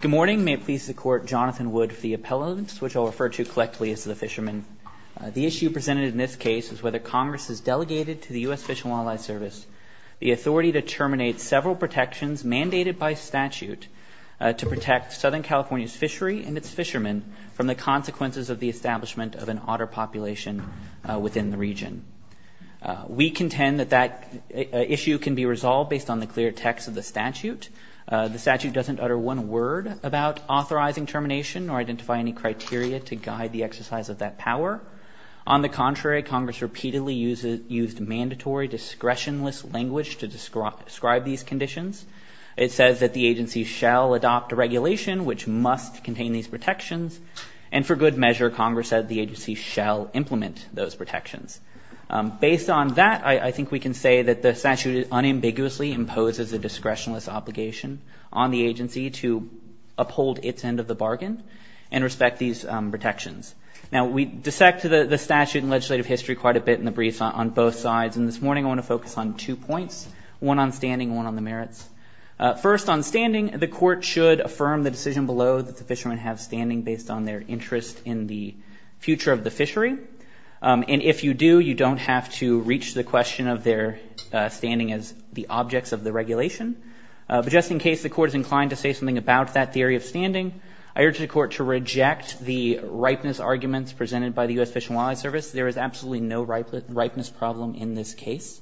Good morning. May it please the Court, Jonathan Wood, for the appellant, which I'll refer to collectively as the fisherman. The issue presented in this case is whether Congress has delegated to the U.S. Fish and Wildlife Service the authority to terminate several protections mandated by statute to protect Southern California's fishery and its fishermen from the consequences of the establishment of an otter population within the region. We contend that that issue can be resolved based on the clear text of the statute. The statute doesn't utter one word about authorizing termination or identify any criteria to guide the exercise of that power. On the contrary, Congress repeatedly used mandatory discretionless language to describe these conditions. It says that the agency shall adopt a regulation which must contain these protections. And for good measure, Congress said the agency shall implement those protections. Based on that, I think we can say that the statute unambiguously imposes a discretionless obligation on the agency to uphold its end of the bargain and respect these protections. Now, we dissect the statute and legislative history quite a bit in the briefs on both sides, and this morning I want to focus on two points, one on standing and one on the merits. First, on standing, the Court should affirm the decision below that the fishermen have standing based on their interest in the future of the fishery. And if you do, you don't have to reach the question of their standing as the objects of the regulation. But just in case the Court is inclined to say something about that theory of standing, I urge the Court to reject the ripeness arguments presented by the U.S. Fish and Wildlife Service. There is absolutely no ripeness problem in this case.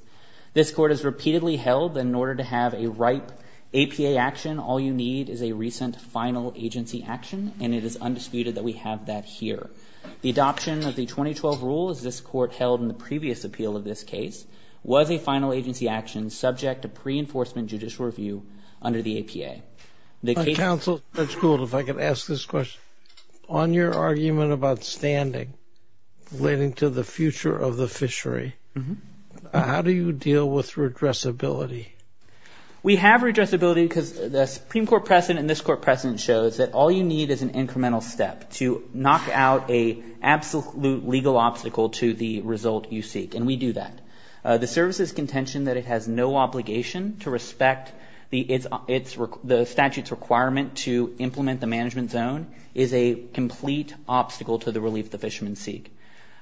This Court has repeatedly held that in order to have a ripe APA action, all you need is a recent final agency action, and it is undisputed that we have that here. The adoption of the 2012 rule, as this Court held in the previous appeal of this case, was a final agency action subject to pre-enforcement judicial review under the APA. My counsel, Judge Gould, if I could ask this question. On your argument about standing relating to the future of the fishery, how do you deal with redressability? We have redressability because the Supreme Court precedent and this Court precedent shows that all you need is an incremental step to knock out an absolute legal obstacle to the result you seek, and we do that. The Service's contention that it has no obligation to respect the statute's requirement to implement the management zone is a complete obstacle to the relief the fishermen seek.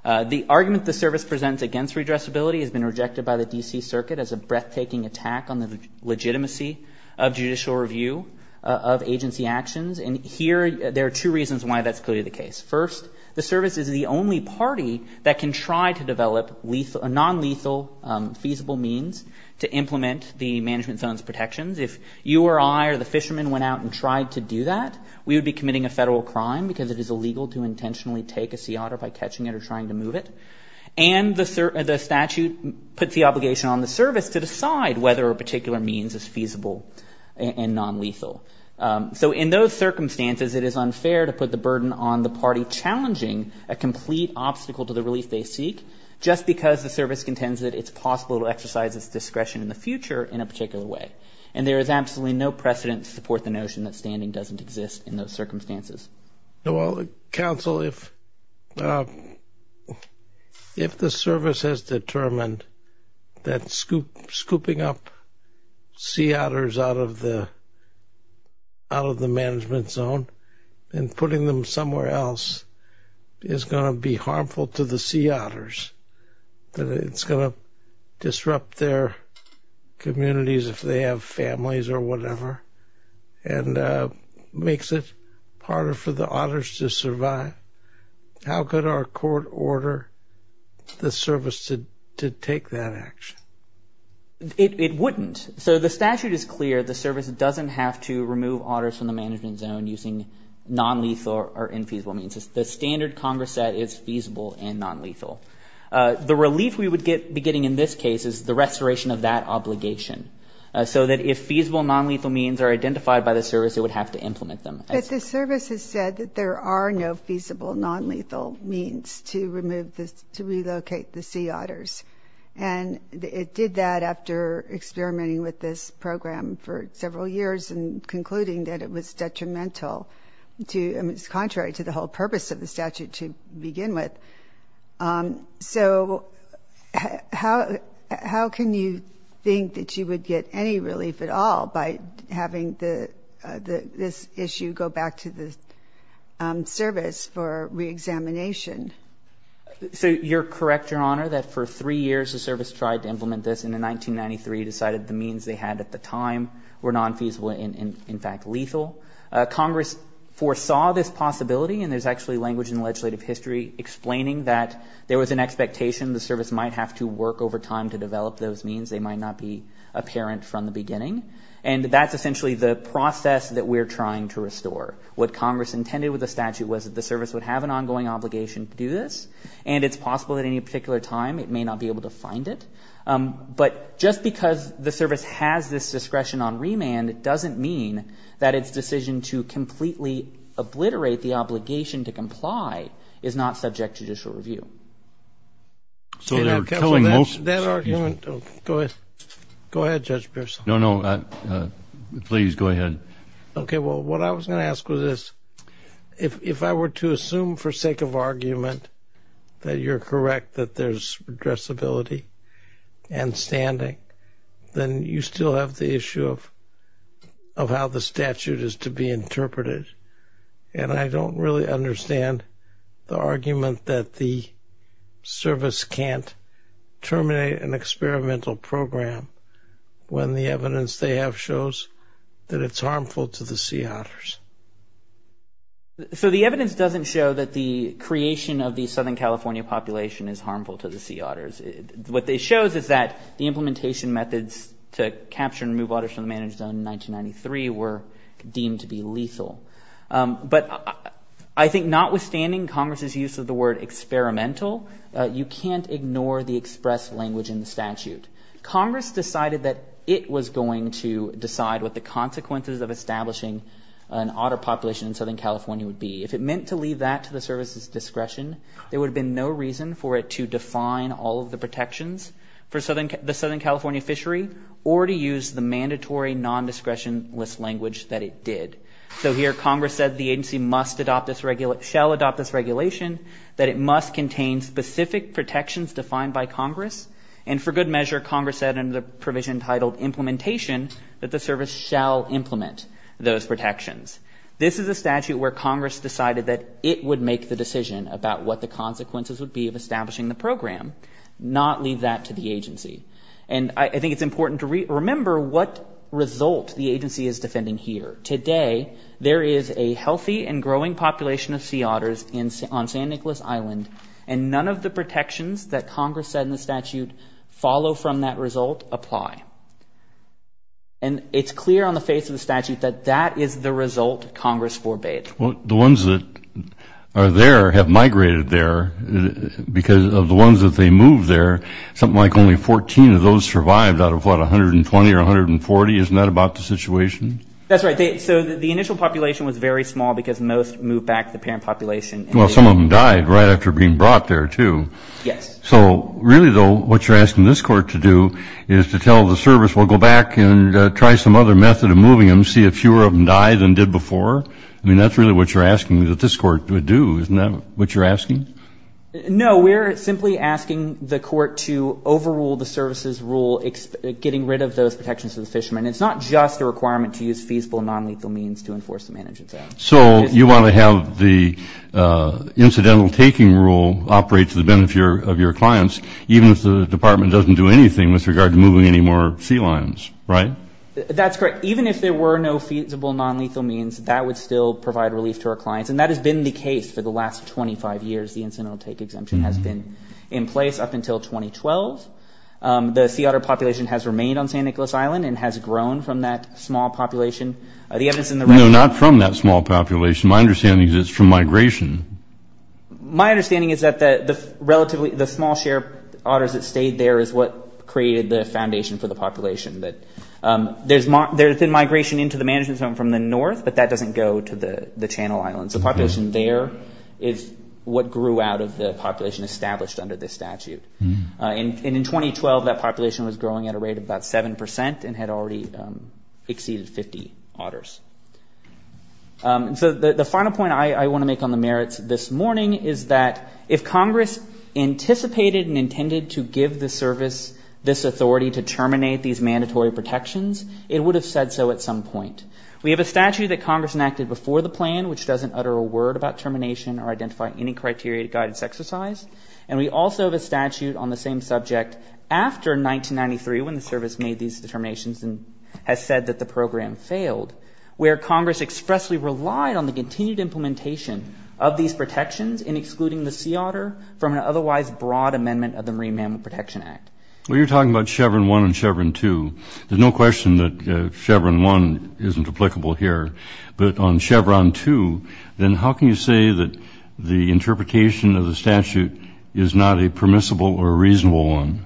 The argument the Service presents against redressability has been rejected by the D.C. Circuit as a breathtaking attack on the legitimacy of judicial review of agency actions, and here there are two reasons why that's clearly the case. First, the Service is the only party that can try to develop non-lethal feasible means to implement the management zone's protections. If you or I or the fishermen went out and tried to do that, we would be committing a federal crime because it is illegal to intentionally take a sea otter by catching it or trying to move it, and the statute puts the obligation on the Service to decide whether a particular means is feasible and non-lethal. So in those circumstances it is unfair to put the burden on the party challenging a complete obstacle to the relief they seek just because the Service contends that it's possible to exercise its discretion in the future in a particular way, and there is absolutely no precedent to support the notion that standing doesn't exist in those circumstances. Well, Counsel, if the Service has determined that scooping up sea otters out of the management zone and putting them somewhere else is going to be harmful to the sea otters, that it's going to disrupt their communities if they have families or whatever, and makes it harder for the otters to survive, how could our court order the Service to take that action? It wouldn't. So the statute is clear. The Service doesn't have to remove otters from the management zone using non-lethal or infeasible means. The standard Congress set is feasible and non-lethal. The relief we would be getting in this case is the restoration of that obligation so that if feasible non-lethal means are identified by the Service, it would have to implement them. But the Service has said that there are no feasible non-lethal means to remove, to relocate the sea otters, and it did that after experimenting with this program for several years and concluding that it was detrimental, contrary to the whole purpose of the statute to begin with. So how can you think that you would get any relief at all by having this issue go back to the Service for re-examination? So you're correct, Your Honor, that for three years the Service tried to implement this and in 1993 decided the means they had at the time were non-feasible and in fact lethal. Congress foresaw this possibility, and there's actually language in the legislative history explaining that there was an expectation the Service might have to work over time to develop those means. They might not be apparent from the beginning. And that's essentially the process that we're trying to restore. What Congress intended with the statute was that the Service would have an ongoing obligation to do this, and it's possible at any particular time it may not be able to find it. But just because the Service has this discretion on remand doesn't mean that its decision to completely obliterate the obligation to comply is not subject to judicial review. So they're telling most... That argument... Go ahead. Go ahead, Judge Pearson. No, no. Please, go ahead. Okay, well, what I was going to ask was this. If I were to assume for sake of argument that you're correct that there's addressability and standing, then you still have the issue of how the statute is to be interpreted. And I don't really understand the argument that the Service can't terminate an experimental program when the evidence they have shows that it's harmful to the sea otters. So the evidence doesn't show that the creation of the Southern California population is harmful to the sea otters. What it shows is that the implementation methods to capture and remove otters from the managed zone in 1993 were deemed to be lethal. But I think notwithstanding Congress's use of the word experimental, you can't ignore the express language in the statute. Congress decided that it was going to decide what the consequences of establishing an otter population in Southern California would be. If it meant to leave that to the Service's discretion, there would have been no reason for it to define all of the protections for the Southern California fishery or to use the mandatory non-discretionless language that it did. So here Congress said the agency must adopt this... Shall adopt this regulation, that it must contain specific protections defined by Congress. And for good measure, Congress said under the provision titled implementation, that the Service shall implement those protections. This is a statute where Congress decided that it would make the decision about what the consequences would be of establishing the program, not leave that to the agency. And I think it's important to remember what result the agency is defending here. Today, there is a healthy and growing population of sea otters on San Nicolas Island, and none of the protections that Congress said in the statute follow from that result apply. And it's clear on the face of the statute that that is the result Congress forbade. Well, the ones that are there have migrated there because of the ones that they moved there, something like only 14 of those survived out of what, 120 or 140? Isn't that about the situation? That's right. So the initial population was very small because most moved back to the parent population. Well, some of them died right after being brought there, too. Yes. So really, though, what you're asking this Court to do is to tell the Service, well, go back and try some other method of moving them, see if fewer of them died than did before? I mean, that's really what you're asking that this Court would do, isn't that what you're asking? No. We're simply asking the Court to overrule the Service's rule getting rid of those protections to the fishermen. It's not just a requirement to use feasible nonlethal means to enforce the Management Act. So you want to have the incidental taking rule operate to the benefit of your clients, even if the Department doesn't do anything with regard to moving any more sea lions, right? That's correct. Even if there were no feasible nonlethal means, that would still provide relief to our clients. And that has been the case for the last 25 years, the incidental take exemption has been in place up until 2012. The sea otter population has remained on St. Nicholas Island and has grown from that small population. The evidence in the record... No, not from that small population. My understanding is it's from migration. My understanding is that the small share of otters that stayed there is what created the foundation for the population. There's been migration into the management zone from the north, but that doesn't go to the Channel Islands. The population there is what grew out of the population established under this statute. And in 2012, that population was growing at a rate of about 7% and had already exceeded 50 otters. So the final point I want to make on the merits this morning is that if Congress anticipated and intended to give the service this authority to terminate these mandatory protections, it would have said so at some point. We have a statute that Congress enacted before the plan, which doesn't utter a word about termination or identify any criteria to guide its exercise. And we also have a statute on the same subject after 1993, when the service made these determinations and has said that the program failed, where Congress expressly relied on the continued implementation of these protections in excluding the sea otter from an otherwise broad amendment of the Marine Mammal Protection Act. Well, you're talking about Chevron 1 and Chevron 2. There's no question that Chevron 1 isn't applicable here. But on Chevron 2, then how can you say that the interpretation of the statute is not a permissible or reasonable one?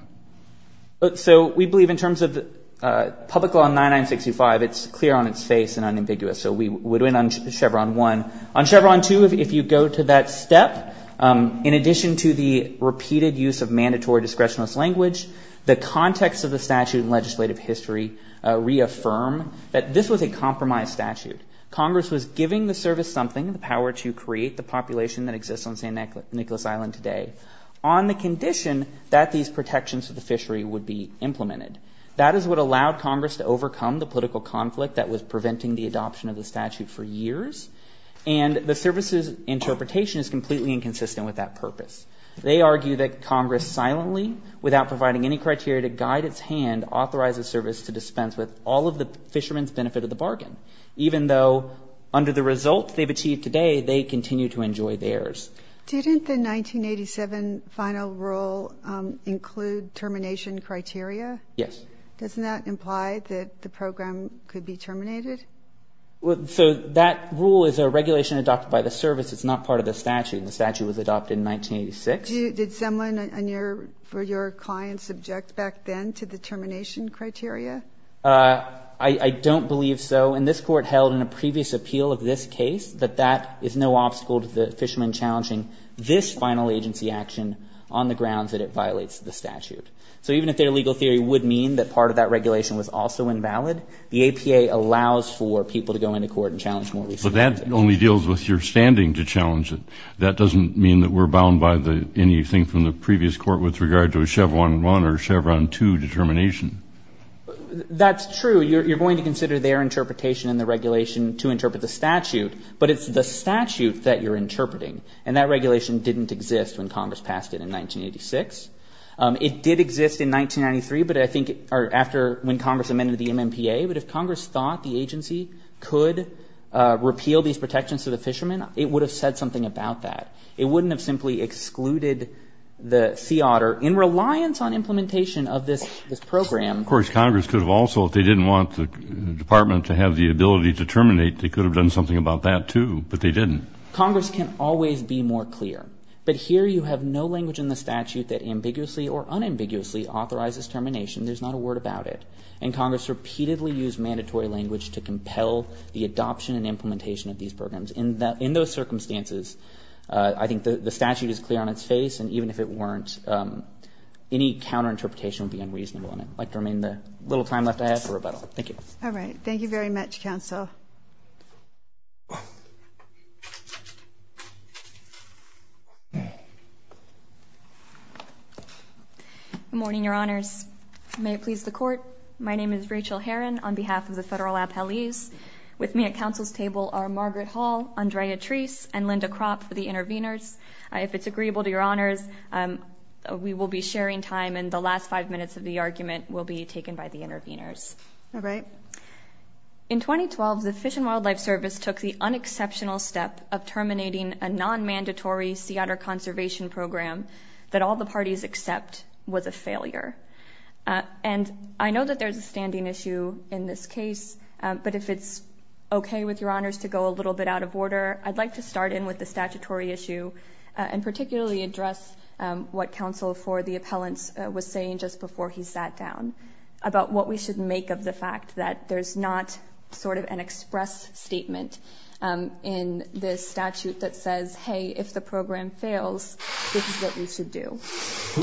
So we believe in terms of Public Law 9965, it's clear on its face and unambiguous. So we would win on Chevron 1. On Chevron 2, if you go to that step, in addition to the repeated use of mandatory discretionless language, the context of the statute and legislative history reaffirm that this was a compromised statute. Congress was giving the service something, the power to create the population that exists on St. Nicholas Island today. On the condition that these protections for the fishery would be implemented. That is what allowed Congress to overcome the political conflict that was preventing the adoption of the statute for years. And the service's interpretation is completely inconsistent with that purpose. They argue that Congress silently, without providing any criteria to guide its hand, authorizes service to dispense with all of the fishermen's benefit of the bargain, even though under the results they've achieved today, they continue to enjoy theirs. Didn't the 1987 final rule include termination criteria? Yes. Doesn't that imply that the program could be terminated? So that rule is a regulation adopted by the service. It's not part of the statute. The statute was adopted in 1986. Did Semlin and your clients object back then to the termination criteria? I don't believe so. And this Court held in a previous appeal of this case that that is no obstacle to the fishermen challenging this final agency action on the grounds that it violates the statute. So even if their legal theory would mean that part of that regulation was also invalid, the APA allows for people to go into court and challenge more recently. But that only deals with your standing to challenge it. That doesn't mean that we're bound by anything from the previous court with regard to a Chevron 1 or a Chevron 2 determination. That's true. You're going to consider their interpretation in the regulation to interpret the statute, but it's the statute that you're interpreting. And that regulation didn't exist when Congress passed it in 1986. It did exist in 1993, but I think after when Congress amended the MMPA. But if Congress thought the agency could repeal these protections to the fishermen, it would have said something about that. It wouldn't have simply excluded the sea otter in reliance on implementation of this program. Of course, Congress could have also, if they didn't want the Department to have the Congress can always be more clear. But here you have no language in the statute that ambiguously or unambiguously authorizes termination. There's not a word about it. And Congress repeatedly used mandatory language to compel the adoption and implementation of these programs. In those circumstances, I think the statute is clear on its face. And even if it weren't, any counterinterpretation would be unreasonable. I'd like to remain the little time left I have for rebuttal. Thank you. All right. Thank you very much, Counsel. Good morning, Your Honors. May it please the Court. My name is Rachel Heron on behalf of the Federal Appellees. With me at Counsel's Table are Margaret Hall, Andrea Treese, and Linda Kropp for the Interveners. If it's agreeable to Your Honors, we will be sharing time, and the last five minutes of the argument will be taken by the Interveners. All right. In 2012, the Fish and Wildlife Service took the unexceptional step of terminating a non-mandatory sea otter conservation program that all the parties accept was a failure. And I know that there's a standing issue in this case, but if it's okay with Your Honors to go a little bit out of order, I'd like to start in with the statutory issue and particularly address what Counsel for the Appellants was saying just before he sat down about what we should make of the fact that there's not sort of an express statement in this statute that says, hey, if the program fails, this is what we should do.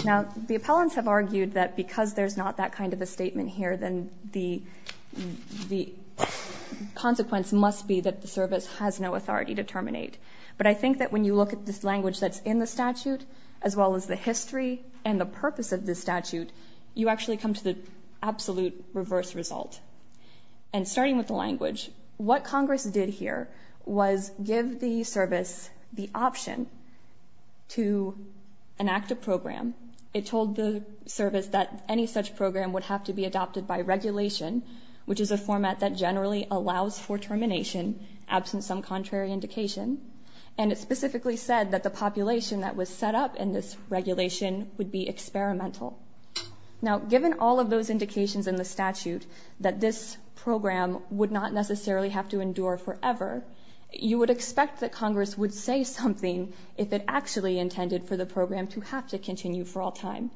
Now, the appellants have argued that because there's not that kind of a statement here, then the consequence must be that the service has no authority to terminate. But I think that when you look at this language that's in the statute, as well as the history and the purpose of this statute, you actually come to the absolute reverse result. And starting with the language, what Congress did here was give the service the option to enact a program. It told the service that any such program would have to be adopted by regulation, which is a format that generally allows for termination, absent some contrary indication. And it specifically said that the population that was set up in this regulation would be experimental. Now, given all of those indications in the statute, that this program would not necessarily have to endure forever, you would expect that Congress would say something if it actually intended for the program to have to continue for all time.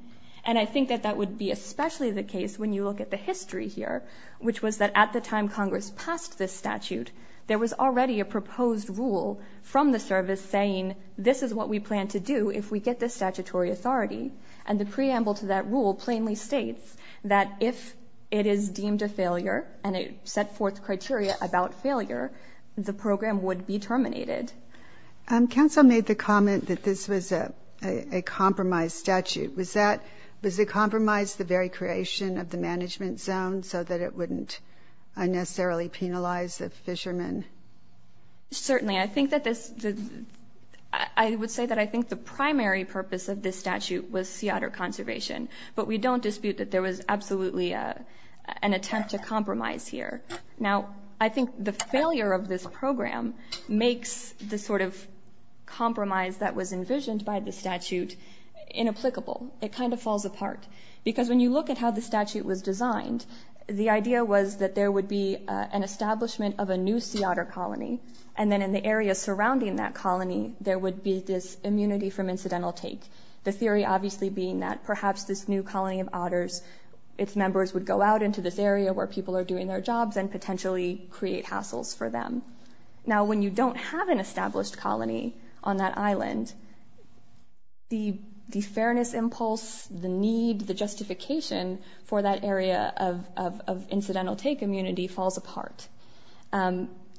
And I think that that would be especially the case when you look at the history here, which was that at the time Congress passed this statute, there was already a proposed rule from the service saying this is what we plan to do if we get this statutory authority. And the preamble to that rule plainly states that if it is deemed a failure and it set forth criteria about failure, the program would be terminated. Counsel made the comment that this was a compromised statute. Was it compromised the very creation of the management zone so that it Certainly. I would say that I think the primary purpose of this statute was sea otter conservation, but we don't dispute that there was absolutely an attempt to compromise here. Now, I think the failure of this program makes the sort of compromise that was envisioned by the statute inapplicable. It kind of falls apart. Because when you look at how the statute was designed, the idea was that there would be an establishment of a new sea otter colony. And then in the area surrounding that colony, there would be this immunity from incidental take. The theory obviously being that perhaps this new colony of otters, its members would go out into this area where people are doing their jobs and potentially create hassles for them. Now, when you don't have an established colony on that island, the fairness impulse, the need, the justification for that area of incidental take immunity falls apart.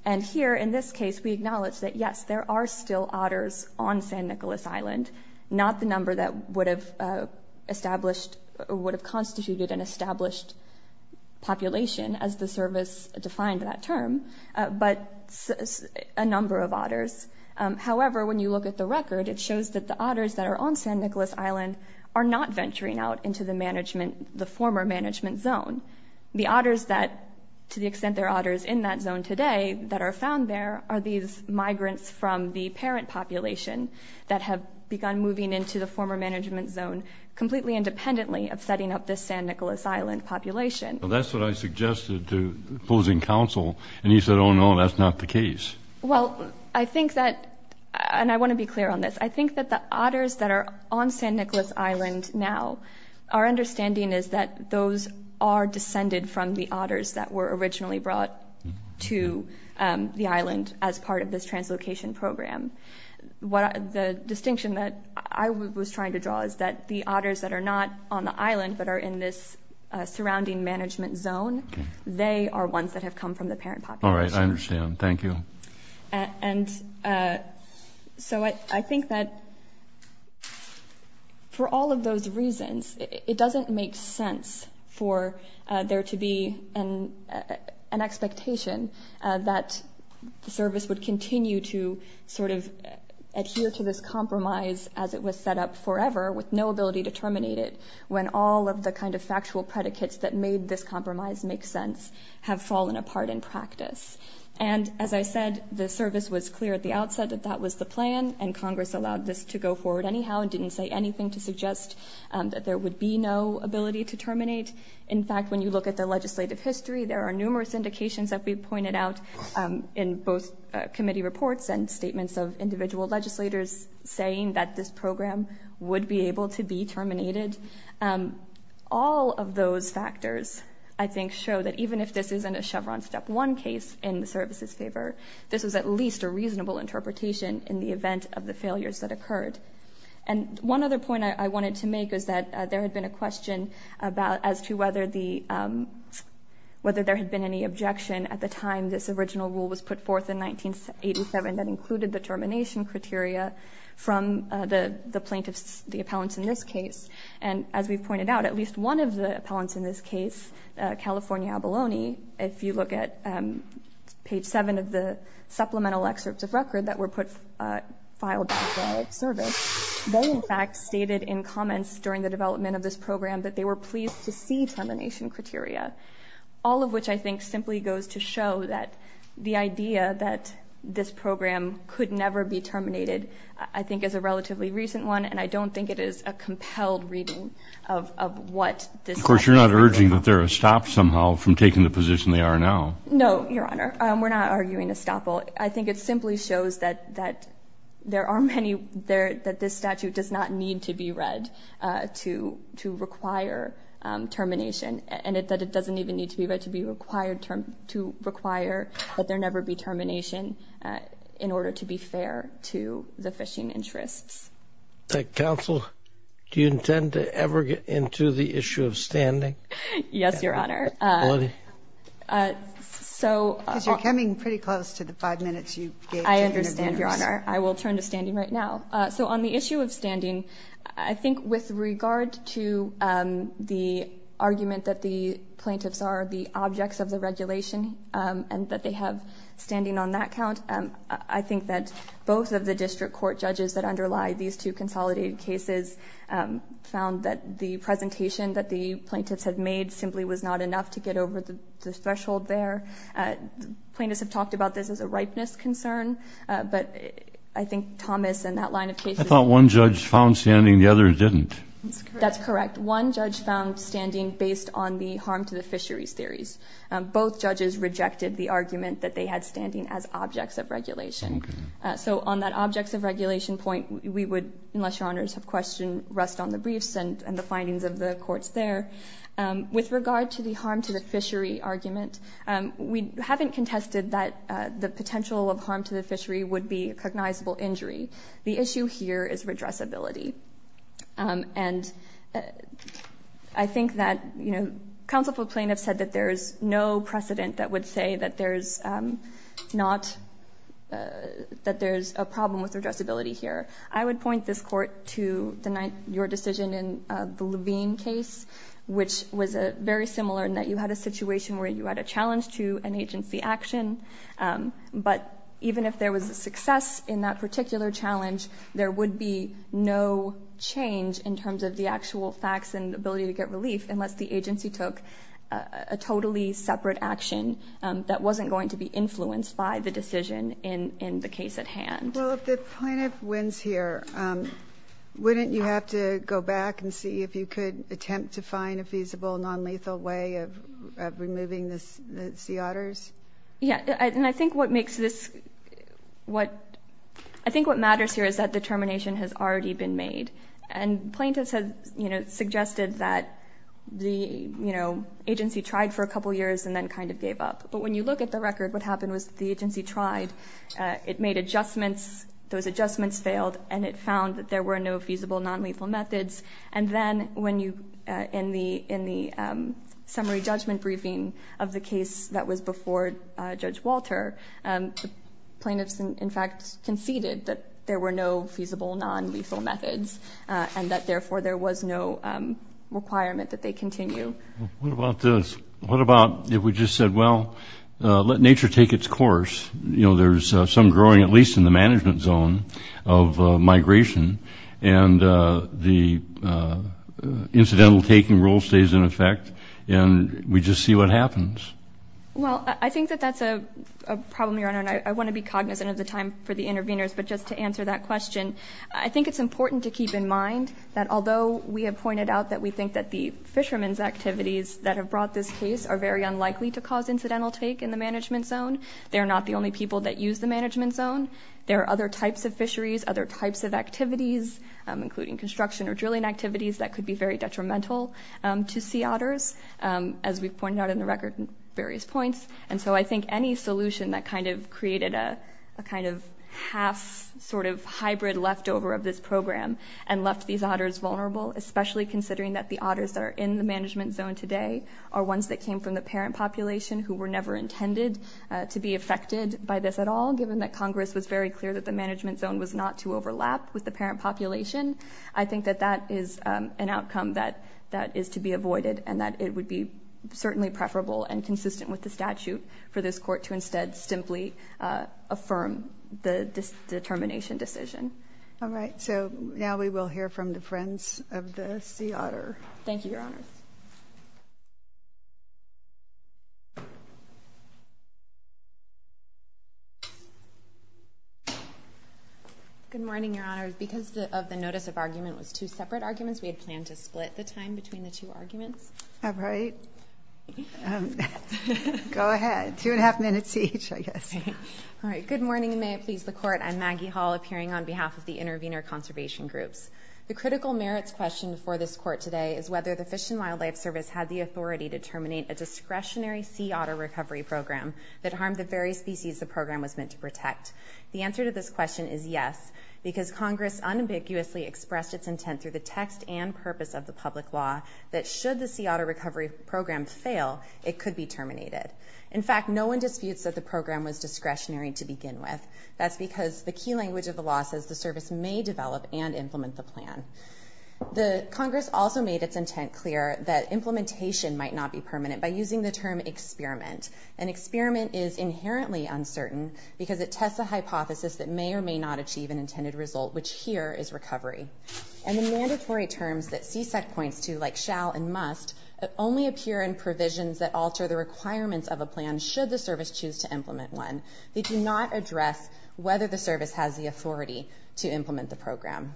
And here in this case, we acknowledge that, yes, there are still otters on San Nicolas Island, not the number that would have established or would have constituted an established population as the service defined that term, but a number of otters. However, when you look at the record, it shows that the otters that are on San Nicolas Island are not venturing out into the management, the former management zone. The otters that, to the extent there are otters in that zone today, that are found there are these migrants from the parent population that have begun moving into the former management zone completely independently of setting up this San Nicolas Island population. Well, that's what I suggested to opposing counsel. And he said, oh no, that's not the case. Well, I think that, and I want to be clear on this. I think that the otters that are on San Nicolas Island now, our understanding is that those are descended from the otters that were originally brought to the island as part of this translocation program. The distinction that I was trying to draw is that the otters that are not on the island but are in this surrounding management zone, they are ones that have come from the parent population. All right, I understand. Thank you. And so I think that for all of those reasons, it doesn't make sense for there to be an expectation that the service would continue to sort of adhere to this compromise as it was set up forever with no ability to terminate it when all of the kind of factual predicates that made this compromise make sense have fallen apart in practice. And as I said, the service was clear at the outset that that was the plan, and Congress allowed this to go forward anyhow and didn't say anything to suggest that there would be no ability to terminate. In fact, when you look at the legislative history, there are numerous indications that we've pointed out in both committee reports and statements of individual legislators saying that this program would be able to be terminated. All of those factors, I think, show that even if this isn't a Chevron step one case in the service's favor, this was at least a reasonable interpretation in the event of the failures that occurred. And one other point I wanted to make is that there had been a question as to whether there had been any objection at the time this original rule was put forth in 1987 that included the termination criteria from the plaintiffs, the appellants in this case. And as we've pointed out, at least one of the appellants in this case, California Abalone, if you look at page 7 of the supplemental excerpts of record that were filed by the service, they in fact stated in comments during the development of this program that they were pleased to see termination criteria, all of which I think simply goes to show that the idea that this program could never be terminated I think is a relatively recent one, and I don't think it is a compelled reading of what this legislature is proposing. So I'm not urging that there are stops somehow from taking the position they are now. No, Your Honor. We're not arguing a stop. I think it simply shows that there are many, that this statute does not need to be read to require termination, and that it doesn't even need to be read to require that there never be termination in order to be fair to the fishing interests. Counsel, do you intend to ever get into the issue of standing? Yes, Your Honor. Because you're coming pretty close to the five minutes you gave to interviewers. I understand, Your Honor. I will turn to standing right now. So on the issue of standing, I think with regard to the argument that the plaintiffs are the objects of the regulation and that they have standing on that count, I think that both of the district court judges that underlie these two consolidated cases found that the presentation that the plaintiffs had made simply was not enough to get over the threshold there. Plaintiffs have talked about this as a ripeness concern, but I think Thomas and that line of cases... I thought one judge found standing and the other didn't. That's correct. One judge found standing based on the harm to the fisheries theories. Both judges rejected the argument that they had standing as objects of regulation. So on that objects of regulation point, we would, unless Your Honors have a question, rest on the briefs and the findings of the courts there. With regard to the harm to the fishery argument, we haven't contested that the potential of harm to the fishery would be a cognizable injury. The issue here is redressability. And I think that, you know, there's no precedent that would say that there's not... that there's a problem with redressability here. I would point this court to your decision in the Levine case, which was very similar in that you had a situation where you had a challenge to an agency action. But even if there was a success in that particular challenge, there would be no change in terms of the actual facts and ability to get a separate action that wasn't going to be influenced by the decision in the case at hand. Well, if the plaintiff wins here, wouldn't you have to go back and see if you could attempt to find a feasible, non-lethal way of removing the sea otters? Yeah. And I think what makes this... I think what matters here is that determination has already been made. And plaintiffs have, you know, agency tried for a couple years and then kind of gave up. But when you look at the record, what happened was the agency tried. It made adjustments. Those adjustments failed and it found that there were no feasible, non-lethal methods. And then when you... in the summary judgment briefing of the case that was before Judge Walter, plaintiffs in fact conceded that there were no feasible, non-lethal methods and that, therefore, there was no requirement that they continue. What about if we just said, well, let nature take its course? You know, there's some growing, at least in the management zone, of migration. And the incidental taking rule stays in effect and we just see what happens. Well, I think that that's a problem, Your Honor, and I want to be cognizant of the time for the interveners. But just to answer that question, I think it's important to keep in mind that although we have pointed out that we think that the fishermen's activities that have brought this case are very unlikely to cause incidental take in the management zone, they're not the only people that use the management zone. There are other types of fisheries, other types of activities, including construction or drilling activities, that could be very detrimental to sea otters, as we've pointed out in the record at various points. And so I think any solution that kind of created a kind of half sort of hybrid leftover of this program and left these otters vulnerable, especially considering that the otters that are in the management zone today are ones that came from the parent population who were never intended to be affected by this at all, given that Congress was very clear that the management zone was not to overlap with the parent population. I think that that is an outcome that is to be avoided and that it would be certainly preferable and consistent with the statute for this court to instead simply affirm the determination decision. All right. So now we will hear from the friends of the sea otter. Thank you, Your Honors. Good morning, Your Honors. Because of the notice of argument was two separate arguments, we had planned to split the time between the two arguments. All right. Go ahead. Two and a half minutes each, I guess. All right. Good morning, and may it please the Court. I'm Maggie Hall appearing on behalf of the Intervenor Conservation Groups. The critical merits question for this court today is whether the Fish and Wildlife Service had the authority to terminate a discretionary sea otter recovery program that harmed the very species the program was meant to protect. The answer to this question is yes, because Congress unambiguously expressed its intent through the text and purpose of the public law that should the sea otter recovery program fail, it could be terminated. In fact, no one disputes that the program was discretionary to begin with. That's because the key language of the law says the service may develop and implement the plan. Congress also made its intent clear that implementation might not be permanent by using the term experiment. An experiment is inherently uncertain because it tests a hypothesis that may or may not achieve an intended result, which here is recovery. And the mandatory terms that CSEC points to, like shall and must, only appear in provisions that alter the requirements of a plan should the service choose to implement one. They do not address whether the service has the authority to implement the program.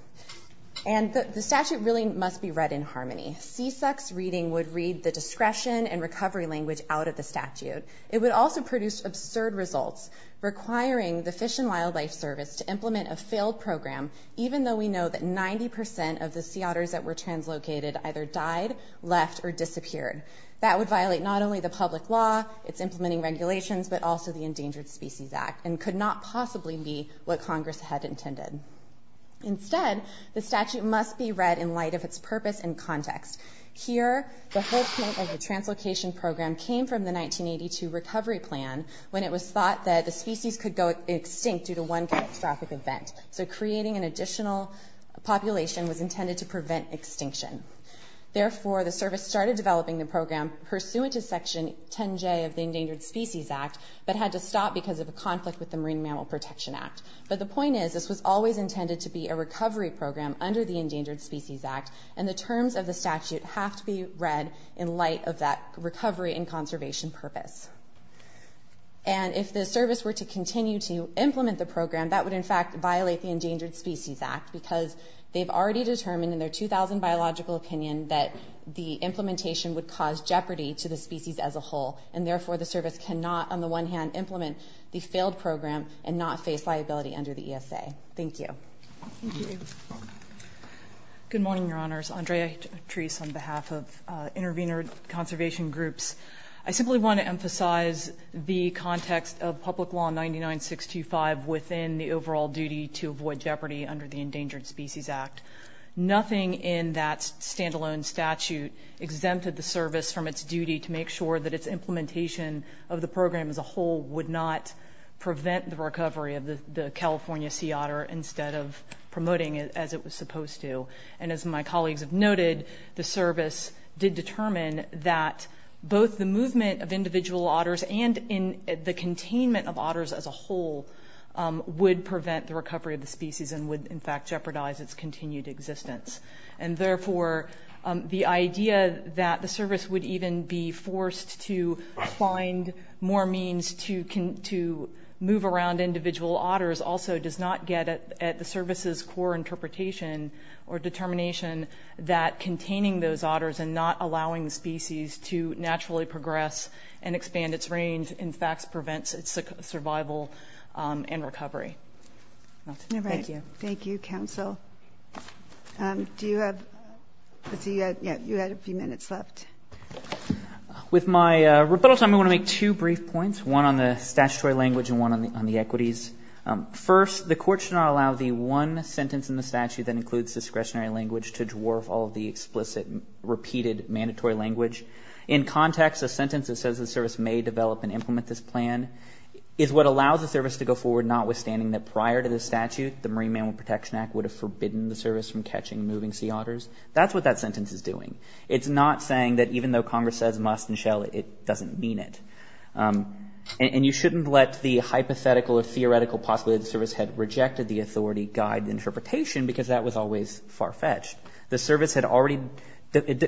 And the statute really must be read in harmony. CSEC's reading would read the discretion and recovery language out of the statute. It would also produce absurd results requiring the Fish and Wildlife Service to implement a failed program, even though we know that 90% of the sea otters that were translocated either died, left, or disappeared. That would violate not only the public law, its implementing regulations, but also the Endangered Species Act and could not possibly be what Congress had intended. Instead, the statute must be read in light of its purpose and context. Here, the whole point of the translocation program came from the 1982 recovery plan when it was thought that the species could go extinct due to one catastrophic event. So creating an additional population was intended to prevent extinction. Therefore, the service started developing the program pursuant to Section 10J of the Endangered Species Act, but had to stop because of a conflict with the Marine Mammal Protection Act. But the point is, this was always intended to be a recovery program under the Endangered Species Act, and the terms of the statute have to be read in light of that recovery and conservation purpose. And if the service were to continue to implement the program, that would in fact violate the Endangered Species Act because they've already determined in their 2000 biological opinion that the implementation would cause jeopardy to the species as a whole. And, therefore, the service cannot, on the one hand, implement the failed program and not face liability under the ESA. Thank you. Thank you. Good morning, Your Honors. Andrea Treese on behalf of Intervenor Conservation Groups. I simply want to emphasize the context of Public Law 99-625 within the overall duty to avoid jeopardy under the Endangered Species Act. Nothing in that standalone statute exempted the service from its duty to make sure that its implementation of the program as a whole would not prevent the recovery of the California sea otter instead of promoting it as it was supposed to. And as my colleagues have noted, the service did determine that both the movement of individual otters and the containment of otters as a whole would prevent the recovery of the species and would, in fact, jeopardize its continued existence. And, therefore, the idea that the service would even be forced to find more means to move around individual otters also does not get at the service's core interpretation or determination that containing those otters and not allowing the species to naturally progress and expand its range, in fact, prevents its survival and recovery. Thank you. Thank you, counsel. Do you have a few minutes left? With my rebuttal time, I want to make two brief points, one on the statutory language and one on the equities. First, the court should not allow the one sentence in the statute that includes discretionary language to dwarf all of the explicit repeated mandatory language. In context, a sentence that says the service may develop and implement this plan is what allows the service to go forward notwithstanding that prior to the statute the Marine Mammal Protection Act would have forbidden the service from catching moving sea otters. That's what that sentence is doing. It's not saying that even though Congress says must and shall, it doesn't mean it. And you shouldn't let the hypothetical or theoretical possibility that the service had rejected the authority guide the interpretation because that was always far-fetched. The service had already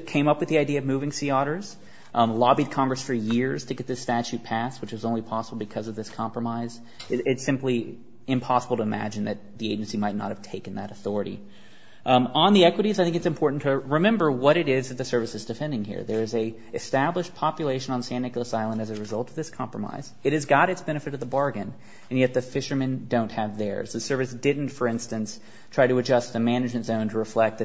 came up with the idea of moving sea otters, lobbied Congress for years to get this statute passed, which was only possible because of this compromise. It's simply impossible to imagine that the agency might not have taken that authority. On the equities, I think it's important to remember what it is that the service is defending here. There is an established population on San Nicolas Island as a result of this compromise. It has got its benefit of the bargain, and yet the fishermen don't have theirs. The service didn't, for instance, try to adjust the management zone to reflect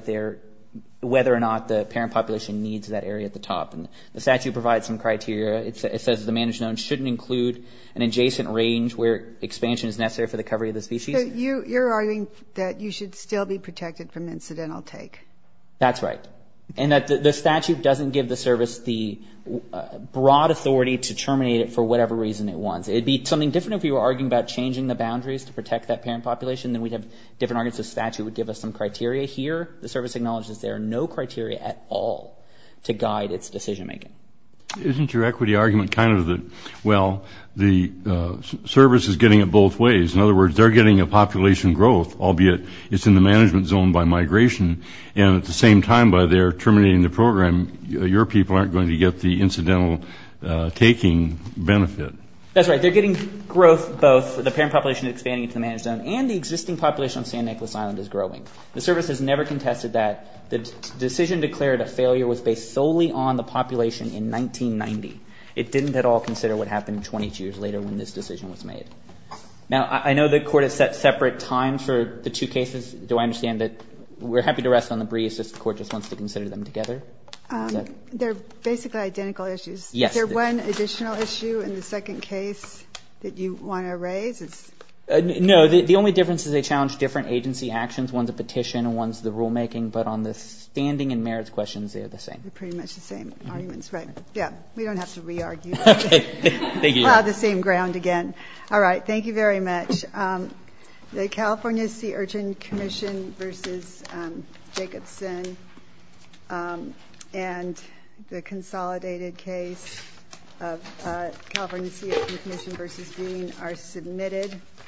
whether or not the parent population needs that area at the top. And the statute provides some criteria. It says the management zone shouldn't include an adjacent range where expansion is necessary for the recovery of the species. You're arguing that you should still be protected from incidental take. That's right. And that the statute doesn't give the service the broad authority to terminate it for whatever reason it wants. It would be something different if we were arguing about changing the boundaries to protect that parent population. Then we'd have different arguments. The statute would give us some criteria. Here, the service acknowledges there are no criteria at all to guide its decision making. Isn't your equity argument kind of the, well, the service is getting it both ways? In other words, they're getting a population growth, albeit it's in the management zone by migration. And at the same time, by their terminating the program, your people aren't going to get the incidental taking benefit. That's right. They're getting growth, both the parent population expanding into the managed zone and the existing population on San Nicolas Island is growing. The service has never contested that. The decision declared a failure was based solely on the population in 1990. It didn't at all consider what happened 22 years later when this decision was made. Now, I know the Court has set separate times for the two cases. Do I understand that we're happy to rest on the breeze if the Court just wants to consider them together? They're basically identical issues. Yes. Is there one additional issue in the second case that you want to raise? No. The only difference is they challenge different agency actions. One's a petition and one's the rulemaking, but on the standing and merits questions, they're the same. They're pretty much the same arguments. Right. We don't have to re-argue. Okay. Thank you. We'll have the same ground again. All right. Thank you very much. The California Sea Urchin Commission v. Jacobson and the consolidated case of California Sea Urchin Commission v. Green are submitted.